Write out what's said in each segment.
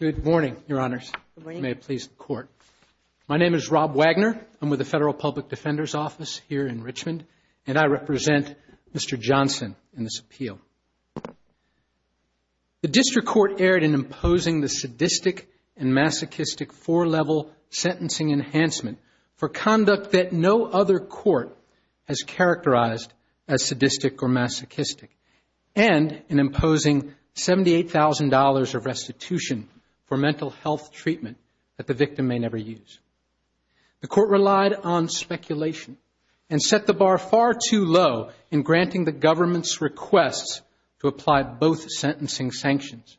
Good morning, your honors. Good morning. May it please the court. My name is Rob Wagner. I'm with the Federal Public Defender's Office here in Richmond, and I represent Mr. Johnson in this appeal. The district court erred in imposing the sadistic and masochistic four-level sentencing enhancement for conduct that no other court has characterized as sadistic or masochistic and in imposing $78,000 of restitution for mental health treatment that the victim may never use. The court relied on speculation and set the bar far too low in granting the government's requests to apply both sentencing sanctions.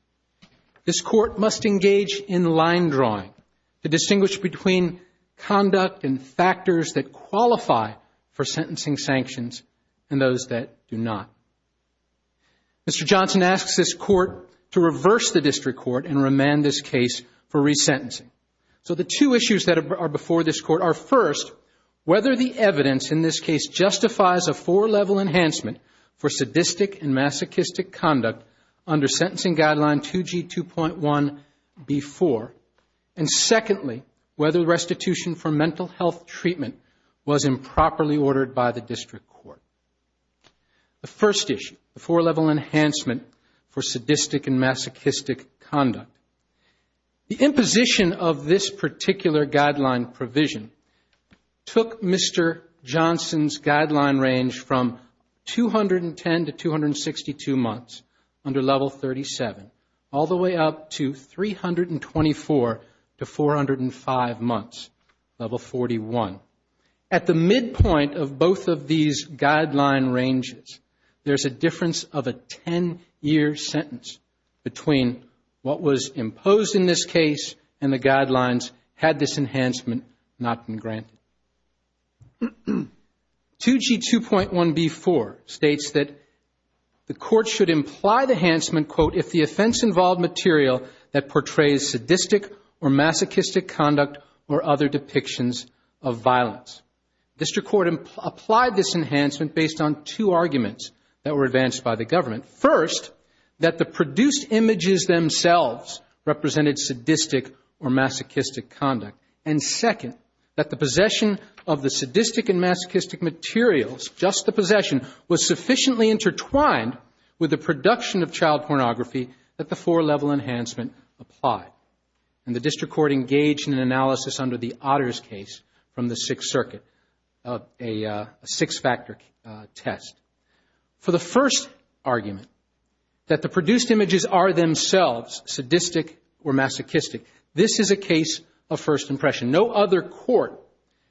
This court must engage in line drawing to distinguish between conduct and factors that qualify for sentencing sanctions and those that do not. Mr. Johnson asks this court to reverse the district court and remand this case for resentencing. So the two issues that are before this court are, first, whether the evidence in this case justifies a four-level enhancement for sadistic and masochistic conduct under Sentencing Guideline 2G2.1B4, and secondly, whether restitution for mental health treatment was improperly ordered by the district court. The first issue, the four-level enhancement for sadistic and masochistic conduct. The imposition of this particular guideline provision took Mr. Johnson's guideline range from 210 to 262 months under Level 37, all the way up to 324 to 405 months, Level 41. At the midpoint of both of these guideline ranges, there's a difference of a 10-year sentence between what was imposed in this case and the guidelines had this enhancement not been granted. 2G2.1B4 states that the court should imply the enhancement, quote, if the offense involved material that portrays sadistic or masochistic conduct or other depictions of violence. District court applied this enhancement based on two arguments that were advanced by the government. First, that the produced images themselves represented sadistic or masochistic conduct. And second, that the possession of the sadistic and masochistic materials, just the possession, was sufficiently intertwined with the production of child pornography that the four-level enhancement applied. And the district court engaged in an analysis under the Otters case from the Sixth Circuit of a six-factor test. For the first argument, that the produced images are themselves sadistic or masochistic, this is a case of first impression. No other court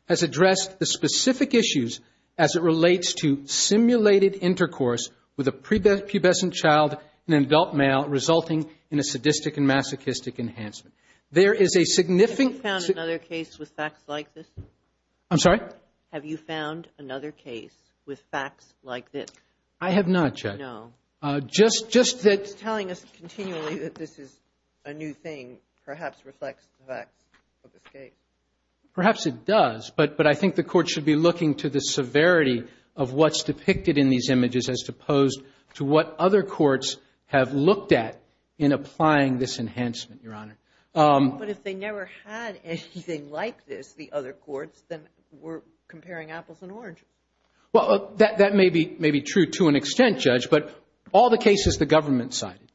has addressed the specific issues as it relates to simulated intercourse with a pubescent child and an adult male resulting in a sadistic and masochistic enhancement. There is a significant – Have you found another case with facts like this? I'm sorry? Have you found another case with facts like this? I have not, Judge. No. Just that – It's telling us continually that this is a new thing, perhaps reflects the facts of this case. Perhaps it does, but I think the court should be looking to the severity of what's depicted in these images as opposed to what other courts have looked at in applying this enhancement, Your Honor. But if they never had anything like this, the other courts, then we're comparing apples and oranges. Well, that may be true to an extent, Judge, but all the cases the government cited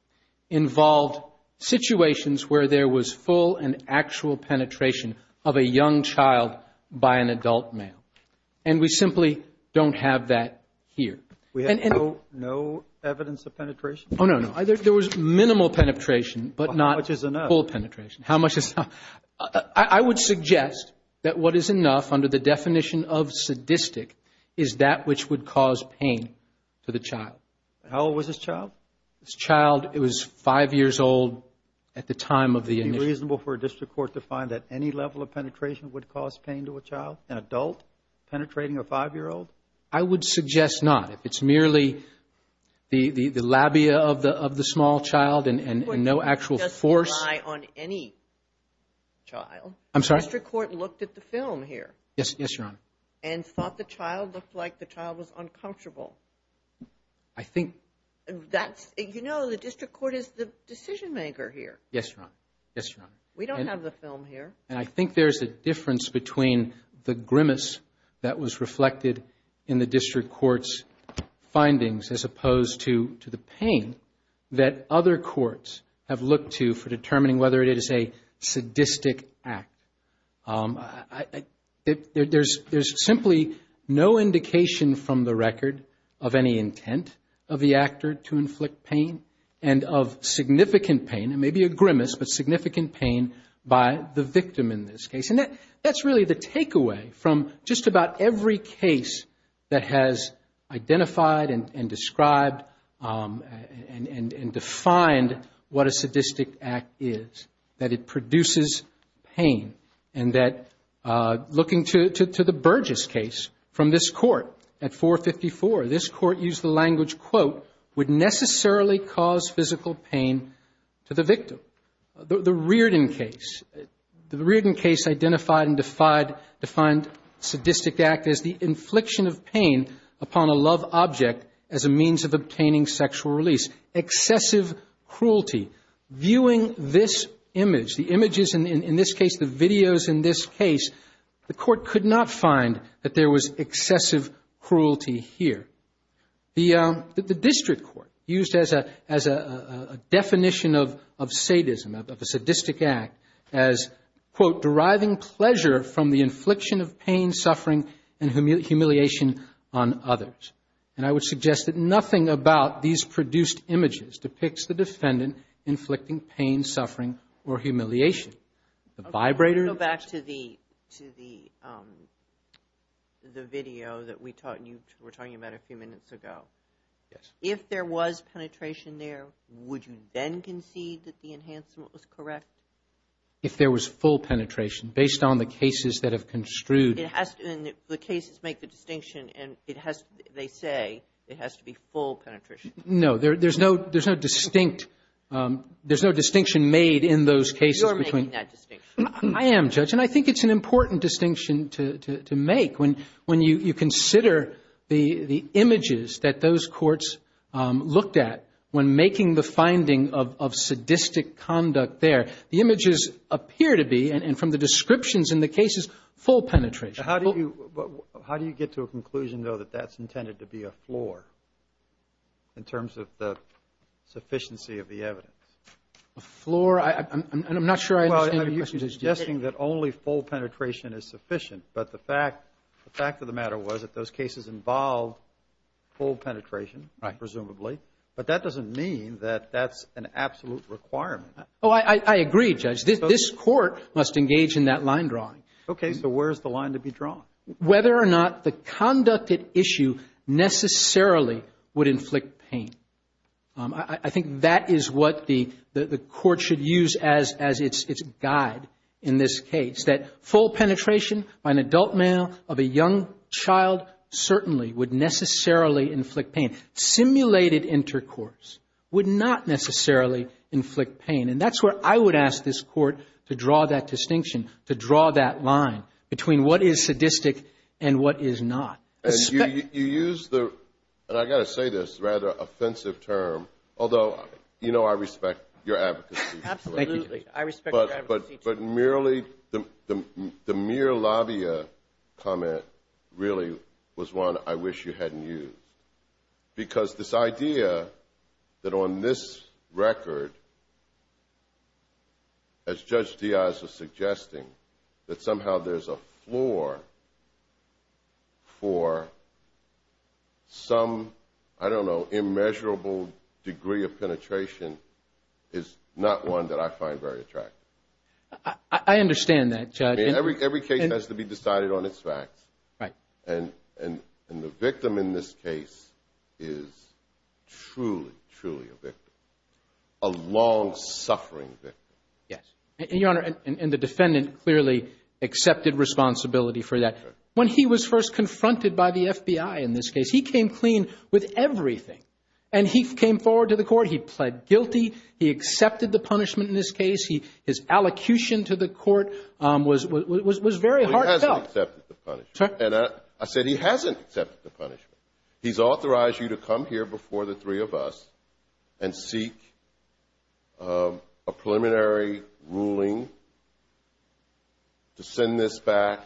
involved situations where there was full and actual penetration of a young child by an adult male. And we simply don't have that here. We have no evidence of penetration? Oh, no, no. There was minimal penetration, but not – How much is enough? Full penetration. How much is – I would suggest that what is enough under the definition of sadistic is that which would cause pain to the child. How old was this child? This child, it was 5 years old at the time of the initial – Would it be reasonable for a district court to find that any level of penetration would cause pain to a child, an adult penetrating a 5-year-old? I would suggest not. If it's merely the labia of the small child and no actual force – The district court doesn't rely on any child. I'm sorry? The district court looked at the film here. Yes, Your Honor. And thought the child looked like the child was uncomfortable. I think – That's – you know, the district court is the decision-maker here. Yes, Your Honor. Yes, Your Honor. We don't have the film here. And I think there's a difference between the grimace that was reflected in the district court's findings as opposed to the pain that other courts have looked to for determining whether it is a sadistic act. There's simply no indication from the record of any intent of the actor to inflict pain and of significant pain, and maybe a grimace, but significant pain by the victim in this case. And that's really the takeaway from just about every case that has identified and described and defined what a sadistic act is, that it produces pain, and that looking to the Burgess case from this court at 454, this court used the language, quote, would necessarily cause physical pain to the victim. The Reardon case, the Reardon case identified and defined sadistic act as the infliction of pain upon a love object as a means of obtaining sexual release. Excessive cruelty. Viewing this image, the images in this case, the videos in this case, the court could not find that there was excessive cruelty here. The district court used as a definition of sadism, of a sadistic act as, quote, deriving pleasure from the infliction of pain, suffering, and humiliation on others. And I would suggest that nothing about these produced images depicts the defendant inflicting pain, suffering, or humiliation. The vibrator. Go back to the video that we were talking about a few minutes ago. Yes. If there was penetration there, would you then concede that the enhancement was correct? If there was full penetration, based on the cases that have construed. The cases make the distinction, and they say it has to be full penetration. No. There's no distinction made in those cases. You're making that distinction. I am, Judge. And I think it's an important distinction to make. When you consider the images that those courts looked at when making the finding of sadistic conduct there, the images appear to be, and from the descriptions in the cases, full penetration. How do you get to a conclusion, though, that that's intended to be a floor in terms of the sufficiency of the evidence? A floor? I'm not sure I understand your question. You're suggesting that only full penetration is sufficient, but the fact of the matter was that those cases involved full penetration. Right. Presumably. But that doesn't mean that that's an absolute requirement. Oh, I agree, Judge. This court must engage in that line drawing. Okay. So where is the line to be drawn? Whether or not the conducted issue necessarily would inflict pain. I think that is what the court should use as its guide in this case, that full penetration by an adult male of a young child certainly would necessarily inflict pain. Simulated intercourse would not necessarily inflict pain. And that's where I would ask this court to draw that distinction, to draw that line between what is sadistic and what is not. And you use the, and I've got to say this, rather offensive term, although, you know, I respect your advocacy. I respect your advocacy, too. But merely the mere labia comment really was one I wish you hadn't used. Because this idea that on this record, as Judge Diaz was suggesting, that somehow there's a floor for some, I don't know, I understand that, Judge. I mean, every case has to be decided on its facts. Right. And the victim in this case is truly, truly a victim, a long-suffering victim. Yes. And, Your Honor, and the defendant clearly accepted responsibility for that. When he was first confronted by the FBI in this case, he came clean with everything. And he came forward to the court. He pled guilty. He accepted the punishment in this case. His allocution to the court was very heartfelt. Well, he hasn't accepted the punishment. And I said he hasn't accepted the punishment. He's authorized you to come here before the three of us and seek a preliminary ruling to send this back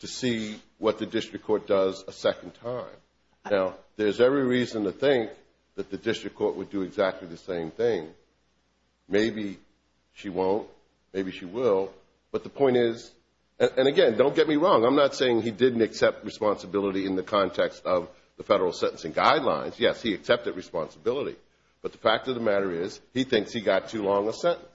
to see what the district court does a second time. Now, there's every reason to think that the district court would do exactly the same thing. Maybe she won't. Maybe she will. But the point is, and, again, don't get me wrong. I'm not saying he didn't accept responsibility in the context of the federal sentencing guidelines. Yes, he accepted responsibility. But the fact of the matter is he thinks he got too long a sentence.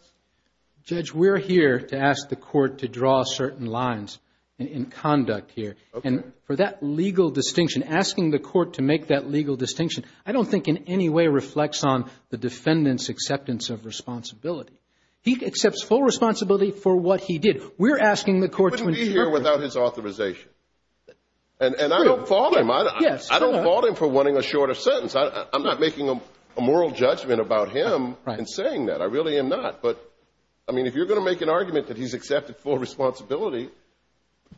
Judge, we're here to ask the court to draw certain lines in conduct here. And for that legal distinction, asking the court to make that legal distinction, I don't think in any way reflects on the defendant's acceptance of responsibility. He accepts full responsibility for what he did. We're asking the court to interpret. He wouldn't be here without his authorization. And I don't fault him. Yes. I don't fault him for wanting a shorter sentence. I'm not making a moral judgment about him in saying that. I really am not. But, I mean, if you're going to make an argument that he's accepted full responsibility,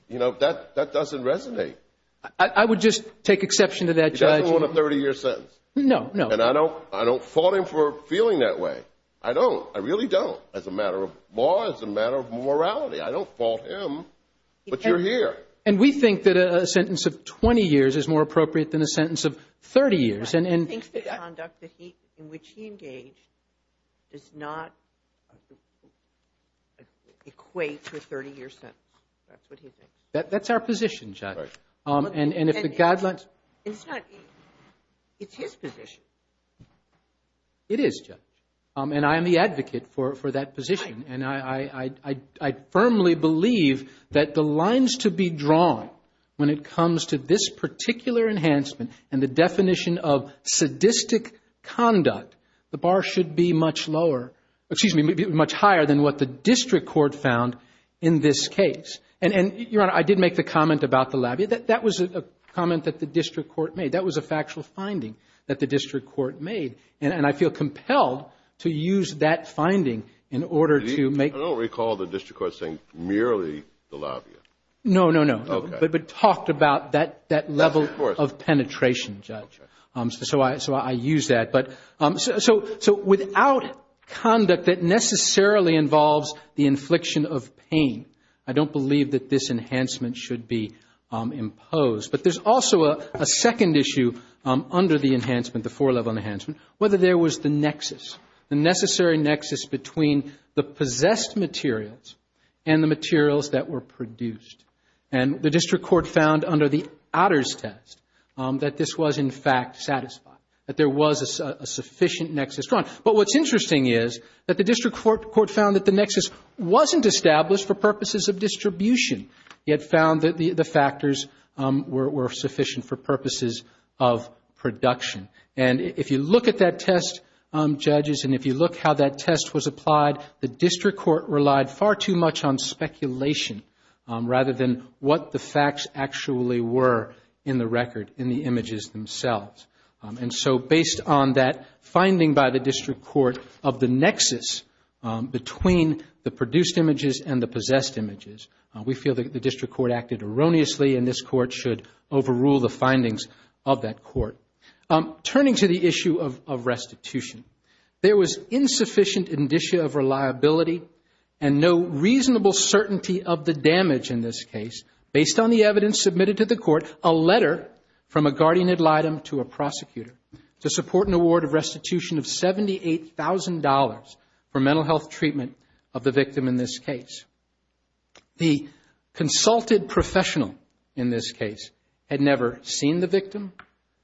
you know, that doesn't resonate. I would just take exception to that, Judge. He doesn't want a 30-year sentence. No, no. And I don't fault him for feeling that way. I don't. I really don't. As a matter of law, as a matter of morality, I don't fault him. But you're here. And we think that a sentence of 20 years is more appropriate than a sentence of 30 years. He thinks the conduct in which he engaged does not equate to a 30-year sentence. That's what he thinks. That's our position, Judge. And if the guidelines. It's not. It's his position. It is, Judge. And I am the advocate for that position. And I firmly believe that the lines to be drawn when it comes to this particular enhancement and the definition of sadistic conduct, the bar should be much lower. Excuse me, much higher than what the district court found in this case. And, Your Honor, I did make the comment about the lab. That was a comment that the district court made. That was a factual finding that the district court made. And I feel compelled to use that finding in order to make. I don't recall the district court saying merely the lab. No, no, no. Okay. But talked about that level of penetration, Judge. So I use that. So without conduct that necessarily involves the infliction of pain, I don't believe that this enhancement should be imposed. But there's also a second issue under the enhancement, the four-level enhancement, whether there was the nexus, the necessary nexus between the possessed materials and the materials that were produced. And the district court found under the Adder's test that this was, in fact, satisfied, that there was a sufficient nexus drawn. But what's interesting is that the district court found that the nexus wasn't established for purposes of distribution. It found that the factors were sufficient for purposes of production. And if you look at that test, judges, and if you look how that test was applied, the district court relied far too much on speculation rather than what the facts actually were in the record, in the images themselves. And so based on that finding by the district court of the nexus between the produced images and the possessed images, we feel that the district court acted erroneously and this court should overrule the findings of that court. Turning to the issue of restitution, there was insufficient indicia of reliability and no reasonable certainty of the damage in this case based on the evidence submitted to the court, a letter from a guardian ad litem to a prosecutor to support an award of restitution of $78,000 for mental health treatment of the victim in this case. The consulted professional in this case had never seen the victim,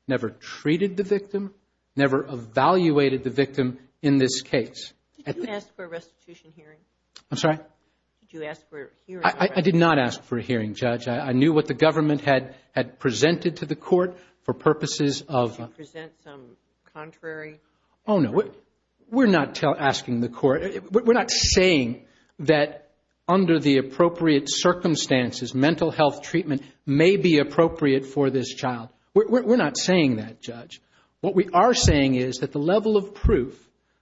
never treated the victim, never evaluated the victim in this case. Did you ask for a restitution hearing? I'm sorry? Did you ask for a hearing? I did not ask for a hearing, Judge. I knew what the government had presented to the court for purposes of – Did you present some contrary – Oh, no. We're not asking the court – we're not saying that under the appropriate circumstances mental health treatment may be appropriate for this child. We're not saying that, Judge. What we are saying is that the level of proof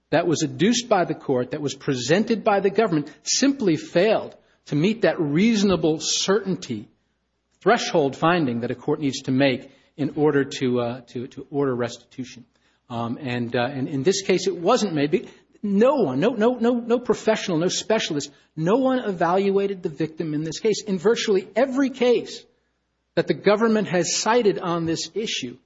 that was adduced by the court, that was presented by the government simply failed to meet that reasonable certainty, threshold finding that a court needs to make in order to order restitution. And in this case it wasn't maybe – no one, no professional, no specialist, no one evaluated the victim in this case. In virtually every case that the government has cited on this issue,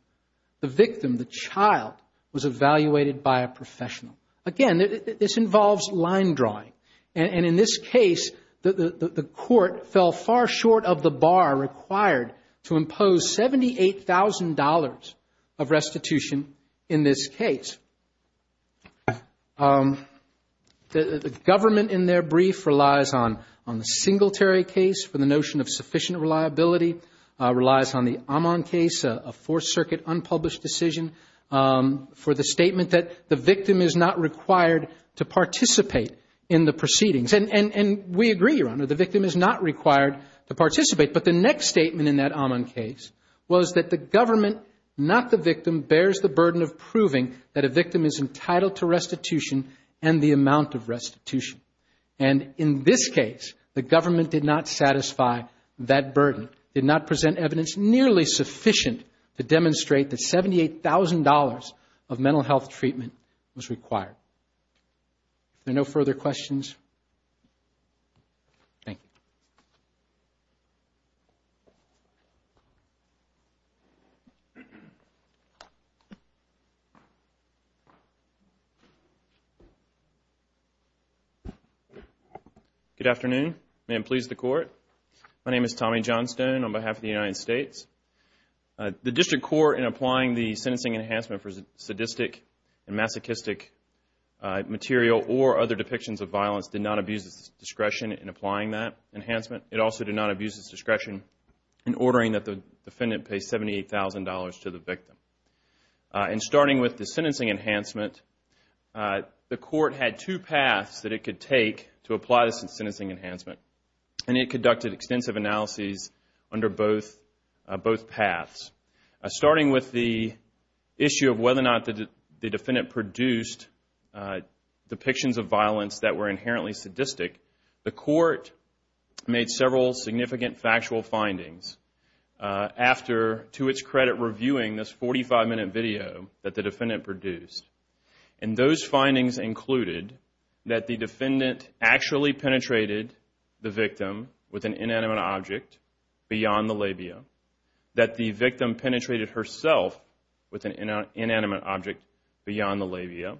the victim, the child, was evaluated by a professional. Again, this involves line drawing. And in this case, the court fell far short of the bar required to impose $78,000 of restitution in this case. The government in their brief relies on the Singletary case for the notion of sufficient reliability, relies on the Amon case, a Fourth Circuit unpublished decision, for the statement that the victim is not required to participate in the proceedings. And we agree, Your Honor, the victim is not required to participate. But the next statement in that Amon case was that the government, not the victim, bears the burden of proving that a victim is entitled to restitution and the amount of restitution. And in this case, the government did not satisfy that burden, did not present evidence nearly sufficient to demonstrate that $78,000 of mental health treatment was required. Are there no further questions? Thank you. Good afternoon. May it please the Court. My name is Tommy Johnstone on behalf of the United States. The District Court, in applying the sentencing enhancement for sadistic and masochistic material or other depictions of violence, did not abuse its discretion in applying that enhancement. It also did not abuse its discretion in ordering that the defendant pay $78,000 to the victim. In starting with the sentencing enhancement, the Court had two paths that it could take to apply the sentencing enhancement. And it conducted extensive analyses under both paths. Starting with the issue of whether or not the defendant produced depictions of violence that were inherently sadistic, the Court made several significant factual findings after, to its credit, reviewing this 45-minute video that the defendant produced. And those findings included that the defendant actually penetrated the victim with an inanimate object beyond the labia, that the victim penetrated herself with an inanimate object beyond the labia,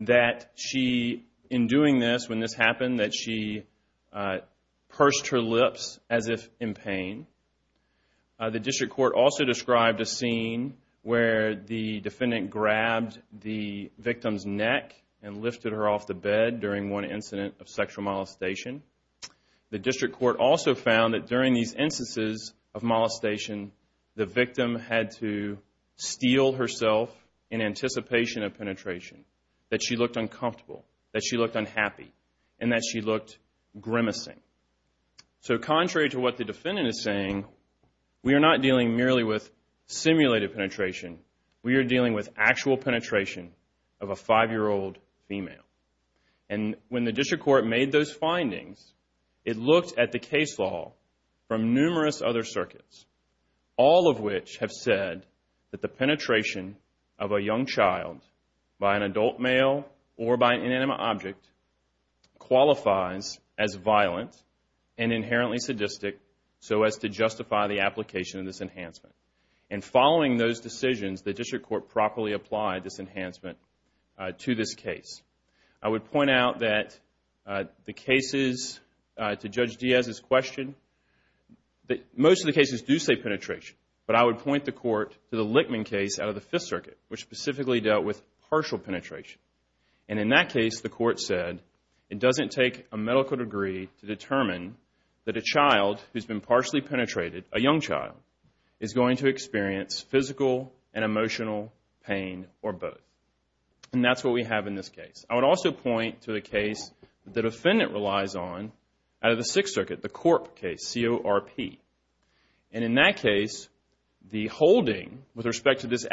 that she, in doing this, when this happened, that she pursed her lips as if in pain. The District Court also described a scene where the defendant grabbed the victim's neck and lifted her off the bed during one incident of sexual molestation. The District Court also found that during these instances of molestation, the victim had to steel herself in anticipation of penetration, that she looked uncomfortable, that she looked unhappy, and that she looked grimacing. So, contrary to what the defendant is saying, we are not dealing merely with simulated penetration. We are dealing with actual penetration of a 5-year-old female. And when the District Court made those findings, it looked at the case law from numerous other circuits. All of which have said that the penetration of a young child by an adult male or by an inanimate object qualifies as violent and inherently sadistic so as to justify the application of this enhancement. And following those decisions, the District Court properly applied this enhancement to this case. I would point out that the cases to Judge Diaz's question, most of the cases do say penetration. But I would point the Court to the Lichtman case out of the Fifth Circuit, which specifically dealt with partial penetration. And in that case, the Court said, it doesn't take a medical degree to determine that a child who has been partially penetrated, a young child, is going to experience physical and emotional pain or both. And that's what we have in this case. I would also point to the case the defendant relies on out of the Sixth Circuit, the Corp case, C-O-R-P. And in that case, the holding with respect to this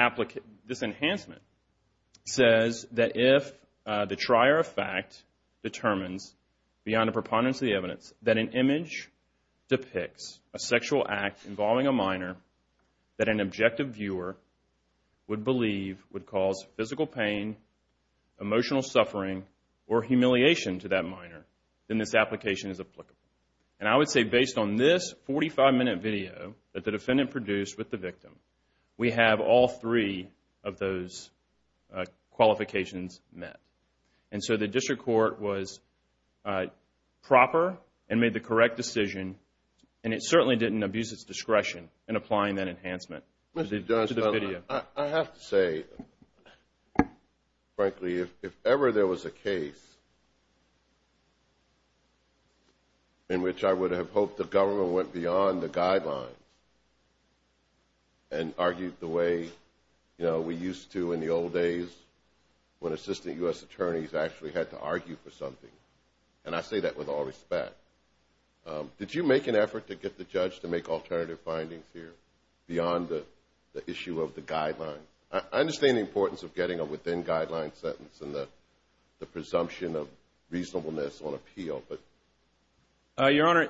enhancement says that if the trier of fact determines, beyond a preponderance of the evidence, that an image depicts a sexual act involving a minor that an objective viewer would believe would cause physical pain, emotional suffering, or humiliation to that minor, then this application is applicable. And I would say based on this 45-minute video that the defendant produced with the victim, we have all three of those qualifications met. And so the District Court was proper and made the correct decision, and it certainly didn't abuse its discretion in applying that enhancement to the video. I have to say, frankly, if ever there was a case in which I would have hoped the government went beyond the guidelines and argued the way we used to in the old days when assistant U.S. attorneys actually had to argue for something, and I say that with all respect, did you make an effort to get the judge to make alternative findings here beyond the issue of the guidelines? I understand the importance of getting a within-guidelines sentence and the presumption of reasonableness on appeal. Your Honor,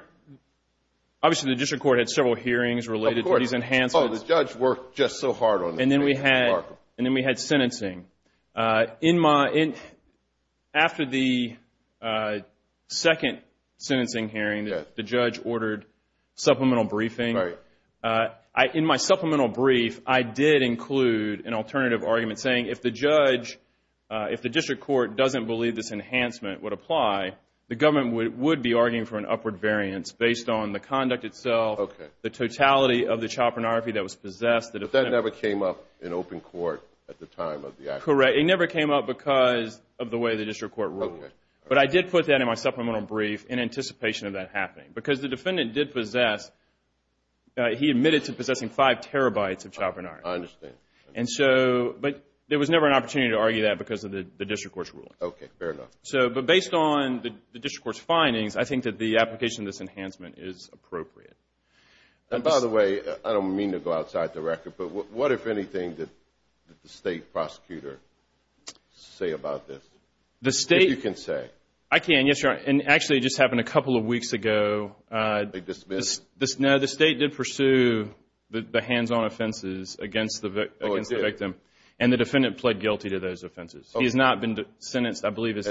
obviously the District Court had several hearings related to these enhancements. Of course. Oh, the judge worked just so hard on this case. And then we had sentencing. After the second sentencing hearing, the judge ordered supplemental briefing. Right. In my supplemental brief, I did include an alternative argument saying if the judge, if the District Court doesn't believe this enhancement would apply, the government would be arguing for an upward variance based on the conduct itself, the totality of the child pornography that was possessed. But that never came up in open court at the time of the action. Correct. It never came up because of the way the District Court ruled. Okay. But I did put that in my supplemental brief in anticipation of that happening, because the defendant did possess, he admitted to possessing five terabytes of child pornography. I understand. But there was never an opportunity to argue that because of the District Court's ruling. Okay. Fair enough. But based on the District Court's findings, I think that the application of this enhancement is appropriate. And, by the way, I don't mean to go outside the record, but what, if anything, did the state prosecutor say about this? If you can say. I can, yes, Your Honor. And, actually, it just happened a couple of weeks ago. They dismissed it? No, the state did pursue the hands-on offenses against the victim. Oh, it did? And the defendant pled guilty to those offenses. Okay. He's not been sentenced. I believe he's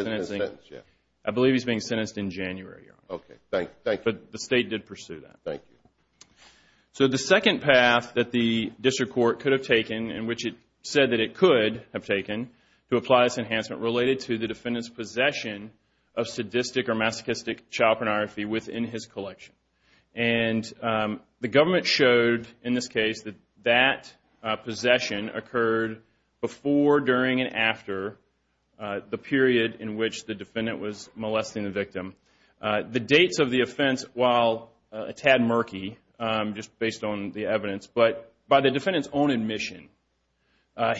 being sentenced in January, Your Honor. Okay. Thank you. But the state did pursue that. Thank you. So the second path that the District Court could have taken, and which it said that it could have taken to apply this enhancement, related to the defendant's possession of sadistic or masochistic child pornography within his collection. And the government showed in this case that that possession occurred before, during, the dates of the offense, while a tad murky, just based on the evidence. But by the defendant's own admission,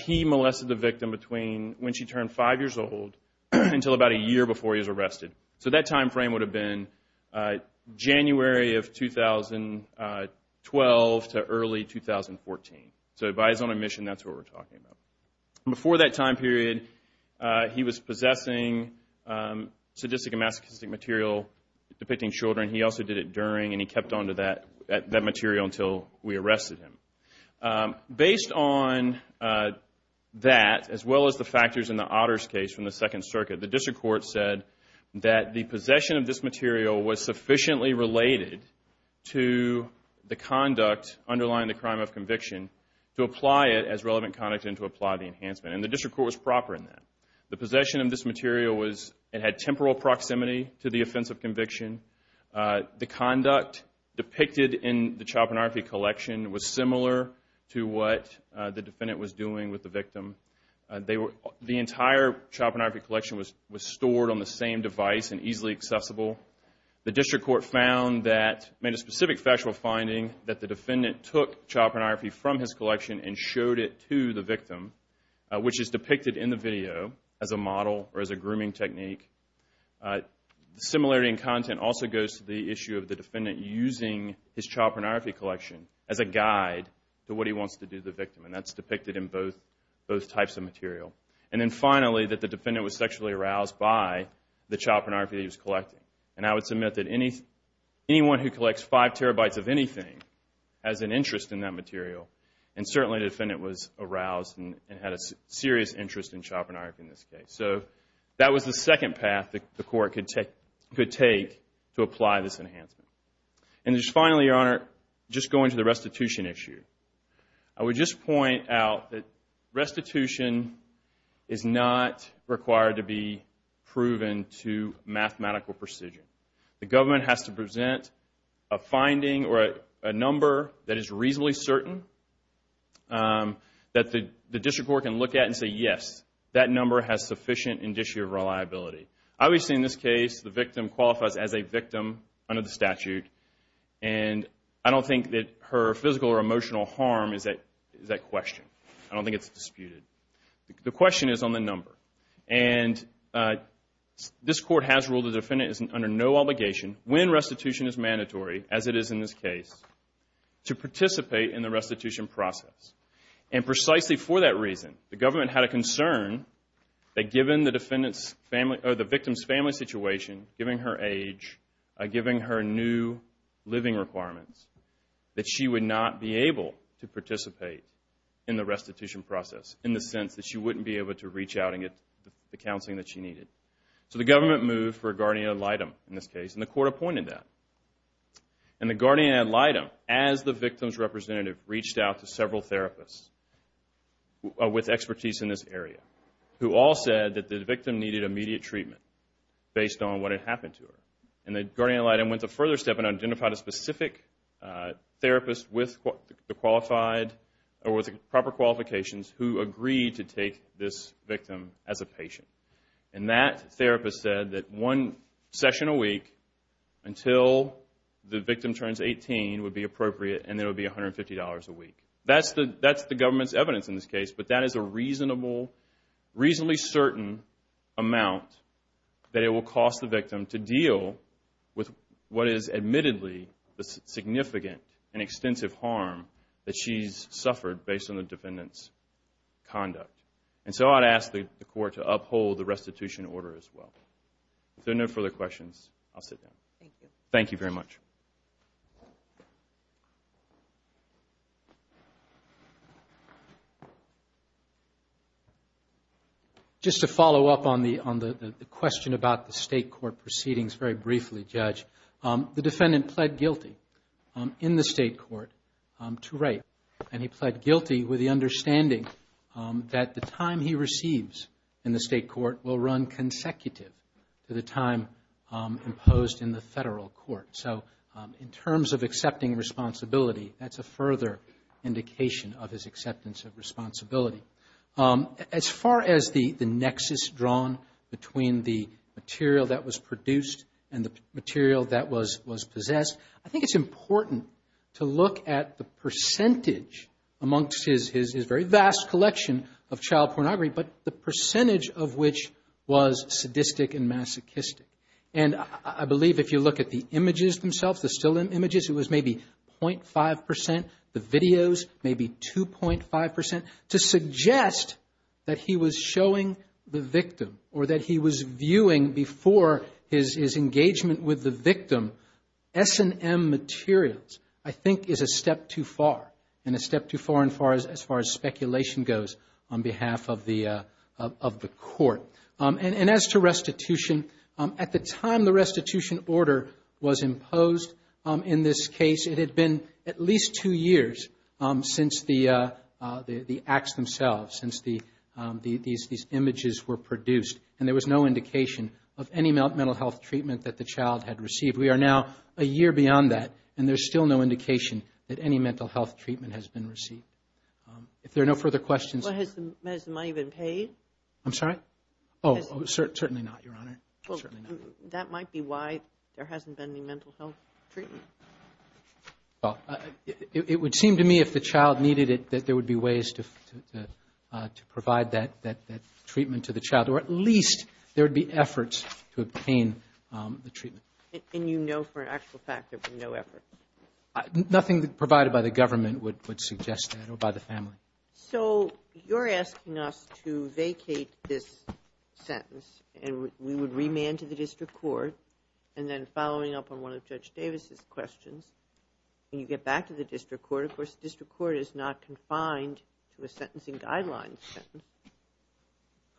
he molested the victim between when she turned five years old until about a year before he was arrested. So that time frame would have been January of 2012 to early 2014. So by his own admission, that's what we're talking about. Before that time period, he was possessing sadistic and masochistic material depicting children. He also did it during, and he kept on to that material until we arrested him. Based on that, as well as the factors in the Otters case from the Second Circuit, the District Court said that the possession of this material was sufficiently related to the conduct, and the District Court was proper in that. The possession of this material had temporal proximity to the offense of conviction. The conduct depicted in the child pornography collection was similar to what the defendant was doing with the victim. The entire child pornography collection was stored on the same device and easily accessible. The District Court found that, made a specific factual finding, that the defendant took child pornography from his collection and showed it to the victim, which is depicted in the video as a model or as a grooming technique. The similarity in content also goes to the issue of the defendant using his child pornography collection as a guide to what he wants to do to the victim, and that's depicted in both types of material. And then finally, that the defendant was sexually aroused by the child pornography that he was collecting. And I would submit that anyone who collects five terabytes of anything has an interest in that material, and certainly the defendant was aroused and had a serious interest in child pornography in this case. So that was the second path that the Court could take to apply this enhancement. And just finally, Your Honor, just going to the restitution issue, I would just point out that restitution is not required to be proven to mathematical precision. The government has to present a finding or a number that is reasonably certain that the District Court can look at and say, yes, that number has sufficient indicia of reliability. Obviously, in this case, the victim qualifies as a victim under the statute, and I don't think that her physical or emotional harm is at question. I don't think it's disputed. The question is on the number. And this Court has ruled the defendant is under no obligation, when restitution is mandatory, as it is in this case, to participate in the restitution process. And precisely for that reason, the government had a concern that given the victim's family situation, given her age, given her new living requirements, that she would not be able to participate in the restitution process, in the sense that she wouldn't be able to reach out and get the counseling that she needed. So the government moved for a guardian ad litem in this case, and the Court appointed that. And the guardian ad litem, as the victim's representative reached out to several therapists with expertise in this area, who all said that the victim needed immediate treatment based on what had happened to her. And the guardian ad litem went a further step and identified a specific therapist with the qualified or with the proper qualifications who agreed to take this victim as a patient. And that therapist said that one session a week until the victim turns 18 would be appropriate, and it would be $150 a week. That's the government's evidence in this case, but that is a reasonably certain amount that it will cost the victim to deal with what is admittedly the significant and extensive harm that she's suffered based on the defendant's conduct. And so I'd ask the Court to uphold the restitution order as well. If there are no further questions, I'll sit down. Thank you. Thank you very much. Thank you. Just to follow up on the question about the state court proceedings very briefly, Judge, the defendant pled guilty in the state court to rape, and he pled guilty with the understanding that the time he receives in the state court will run consecutive to the time imposed in the federal court. So in terms of accepting responsibility, that's a further indication of his acceptance of responsibility. As far as the nexus drawn between the material that was produced and the material that was possessed, I think it's important to look at the percentage amongst his very vast collection of child pornography, but the percentage of which was sadistic and masochistic. And I believe if you look at the images themselves, the still images, it was maybe 0.5 percent, the videos maybe 2.5 percent, to suggest that he was showing the victim or that he was viewing before his engagement with the victim S&M materials I think is a step too far, and a step too far as far as speculation goes on behalf of the Court. And as to restitution, at the time the restitution order was imposed in this case, it had been at least two years since the acts themselves, since these images were produced, and there was no indication of any mental health treatment that the child had received. We are now a year beyond that, and there's still no indication that any mental health treatment has been received. If there are no further questions. Has the money been paid? I'm sorry? Oh, certainly not, Your Honor. Certainly not. That might be why there hasn't been any mental health treatment. Well, it would seem to me if the child needed it that there would be ways to provide that treatment to the child, or at least there would be efforts to obtain the treatment. And you know for an actual fact there would be no effort? Nothing provided by the government would suggest that or by the family. So you're asking us to vacate this sentence, and we would remand to the district court, and then following up on one of Judge Davis's questions, you get back to the district court. Of course, the district court is not confined to a sentencing guidelines.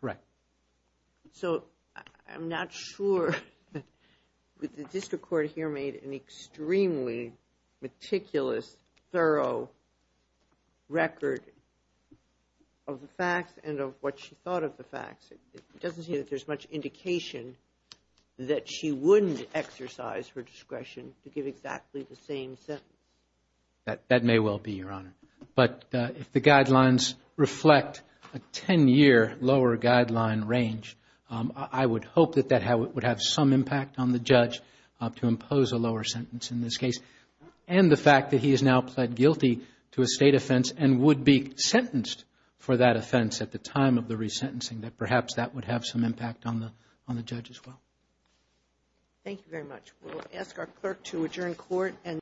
Correct. So I'm not sure that the district court here made an extremely meticulous, thorough record of the facts and of what she thought of the facts. It doesn't seem that there's much indication that she wouldn't exercise her discretion to give exactly the same sentence. But if the guidelines reflect a 10-year lower guideline range, I would hope that that would have some impact on the judge to impose a lower sentence in this case. And the fact that he is now pled guilty to a state offense and would be sentenced for that offense at the time of the resentencing, that perhaps that would have some impact on the judge as well. Thank you very much. We'll ask our clerk to adjourn court.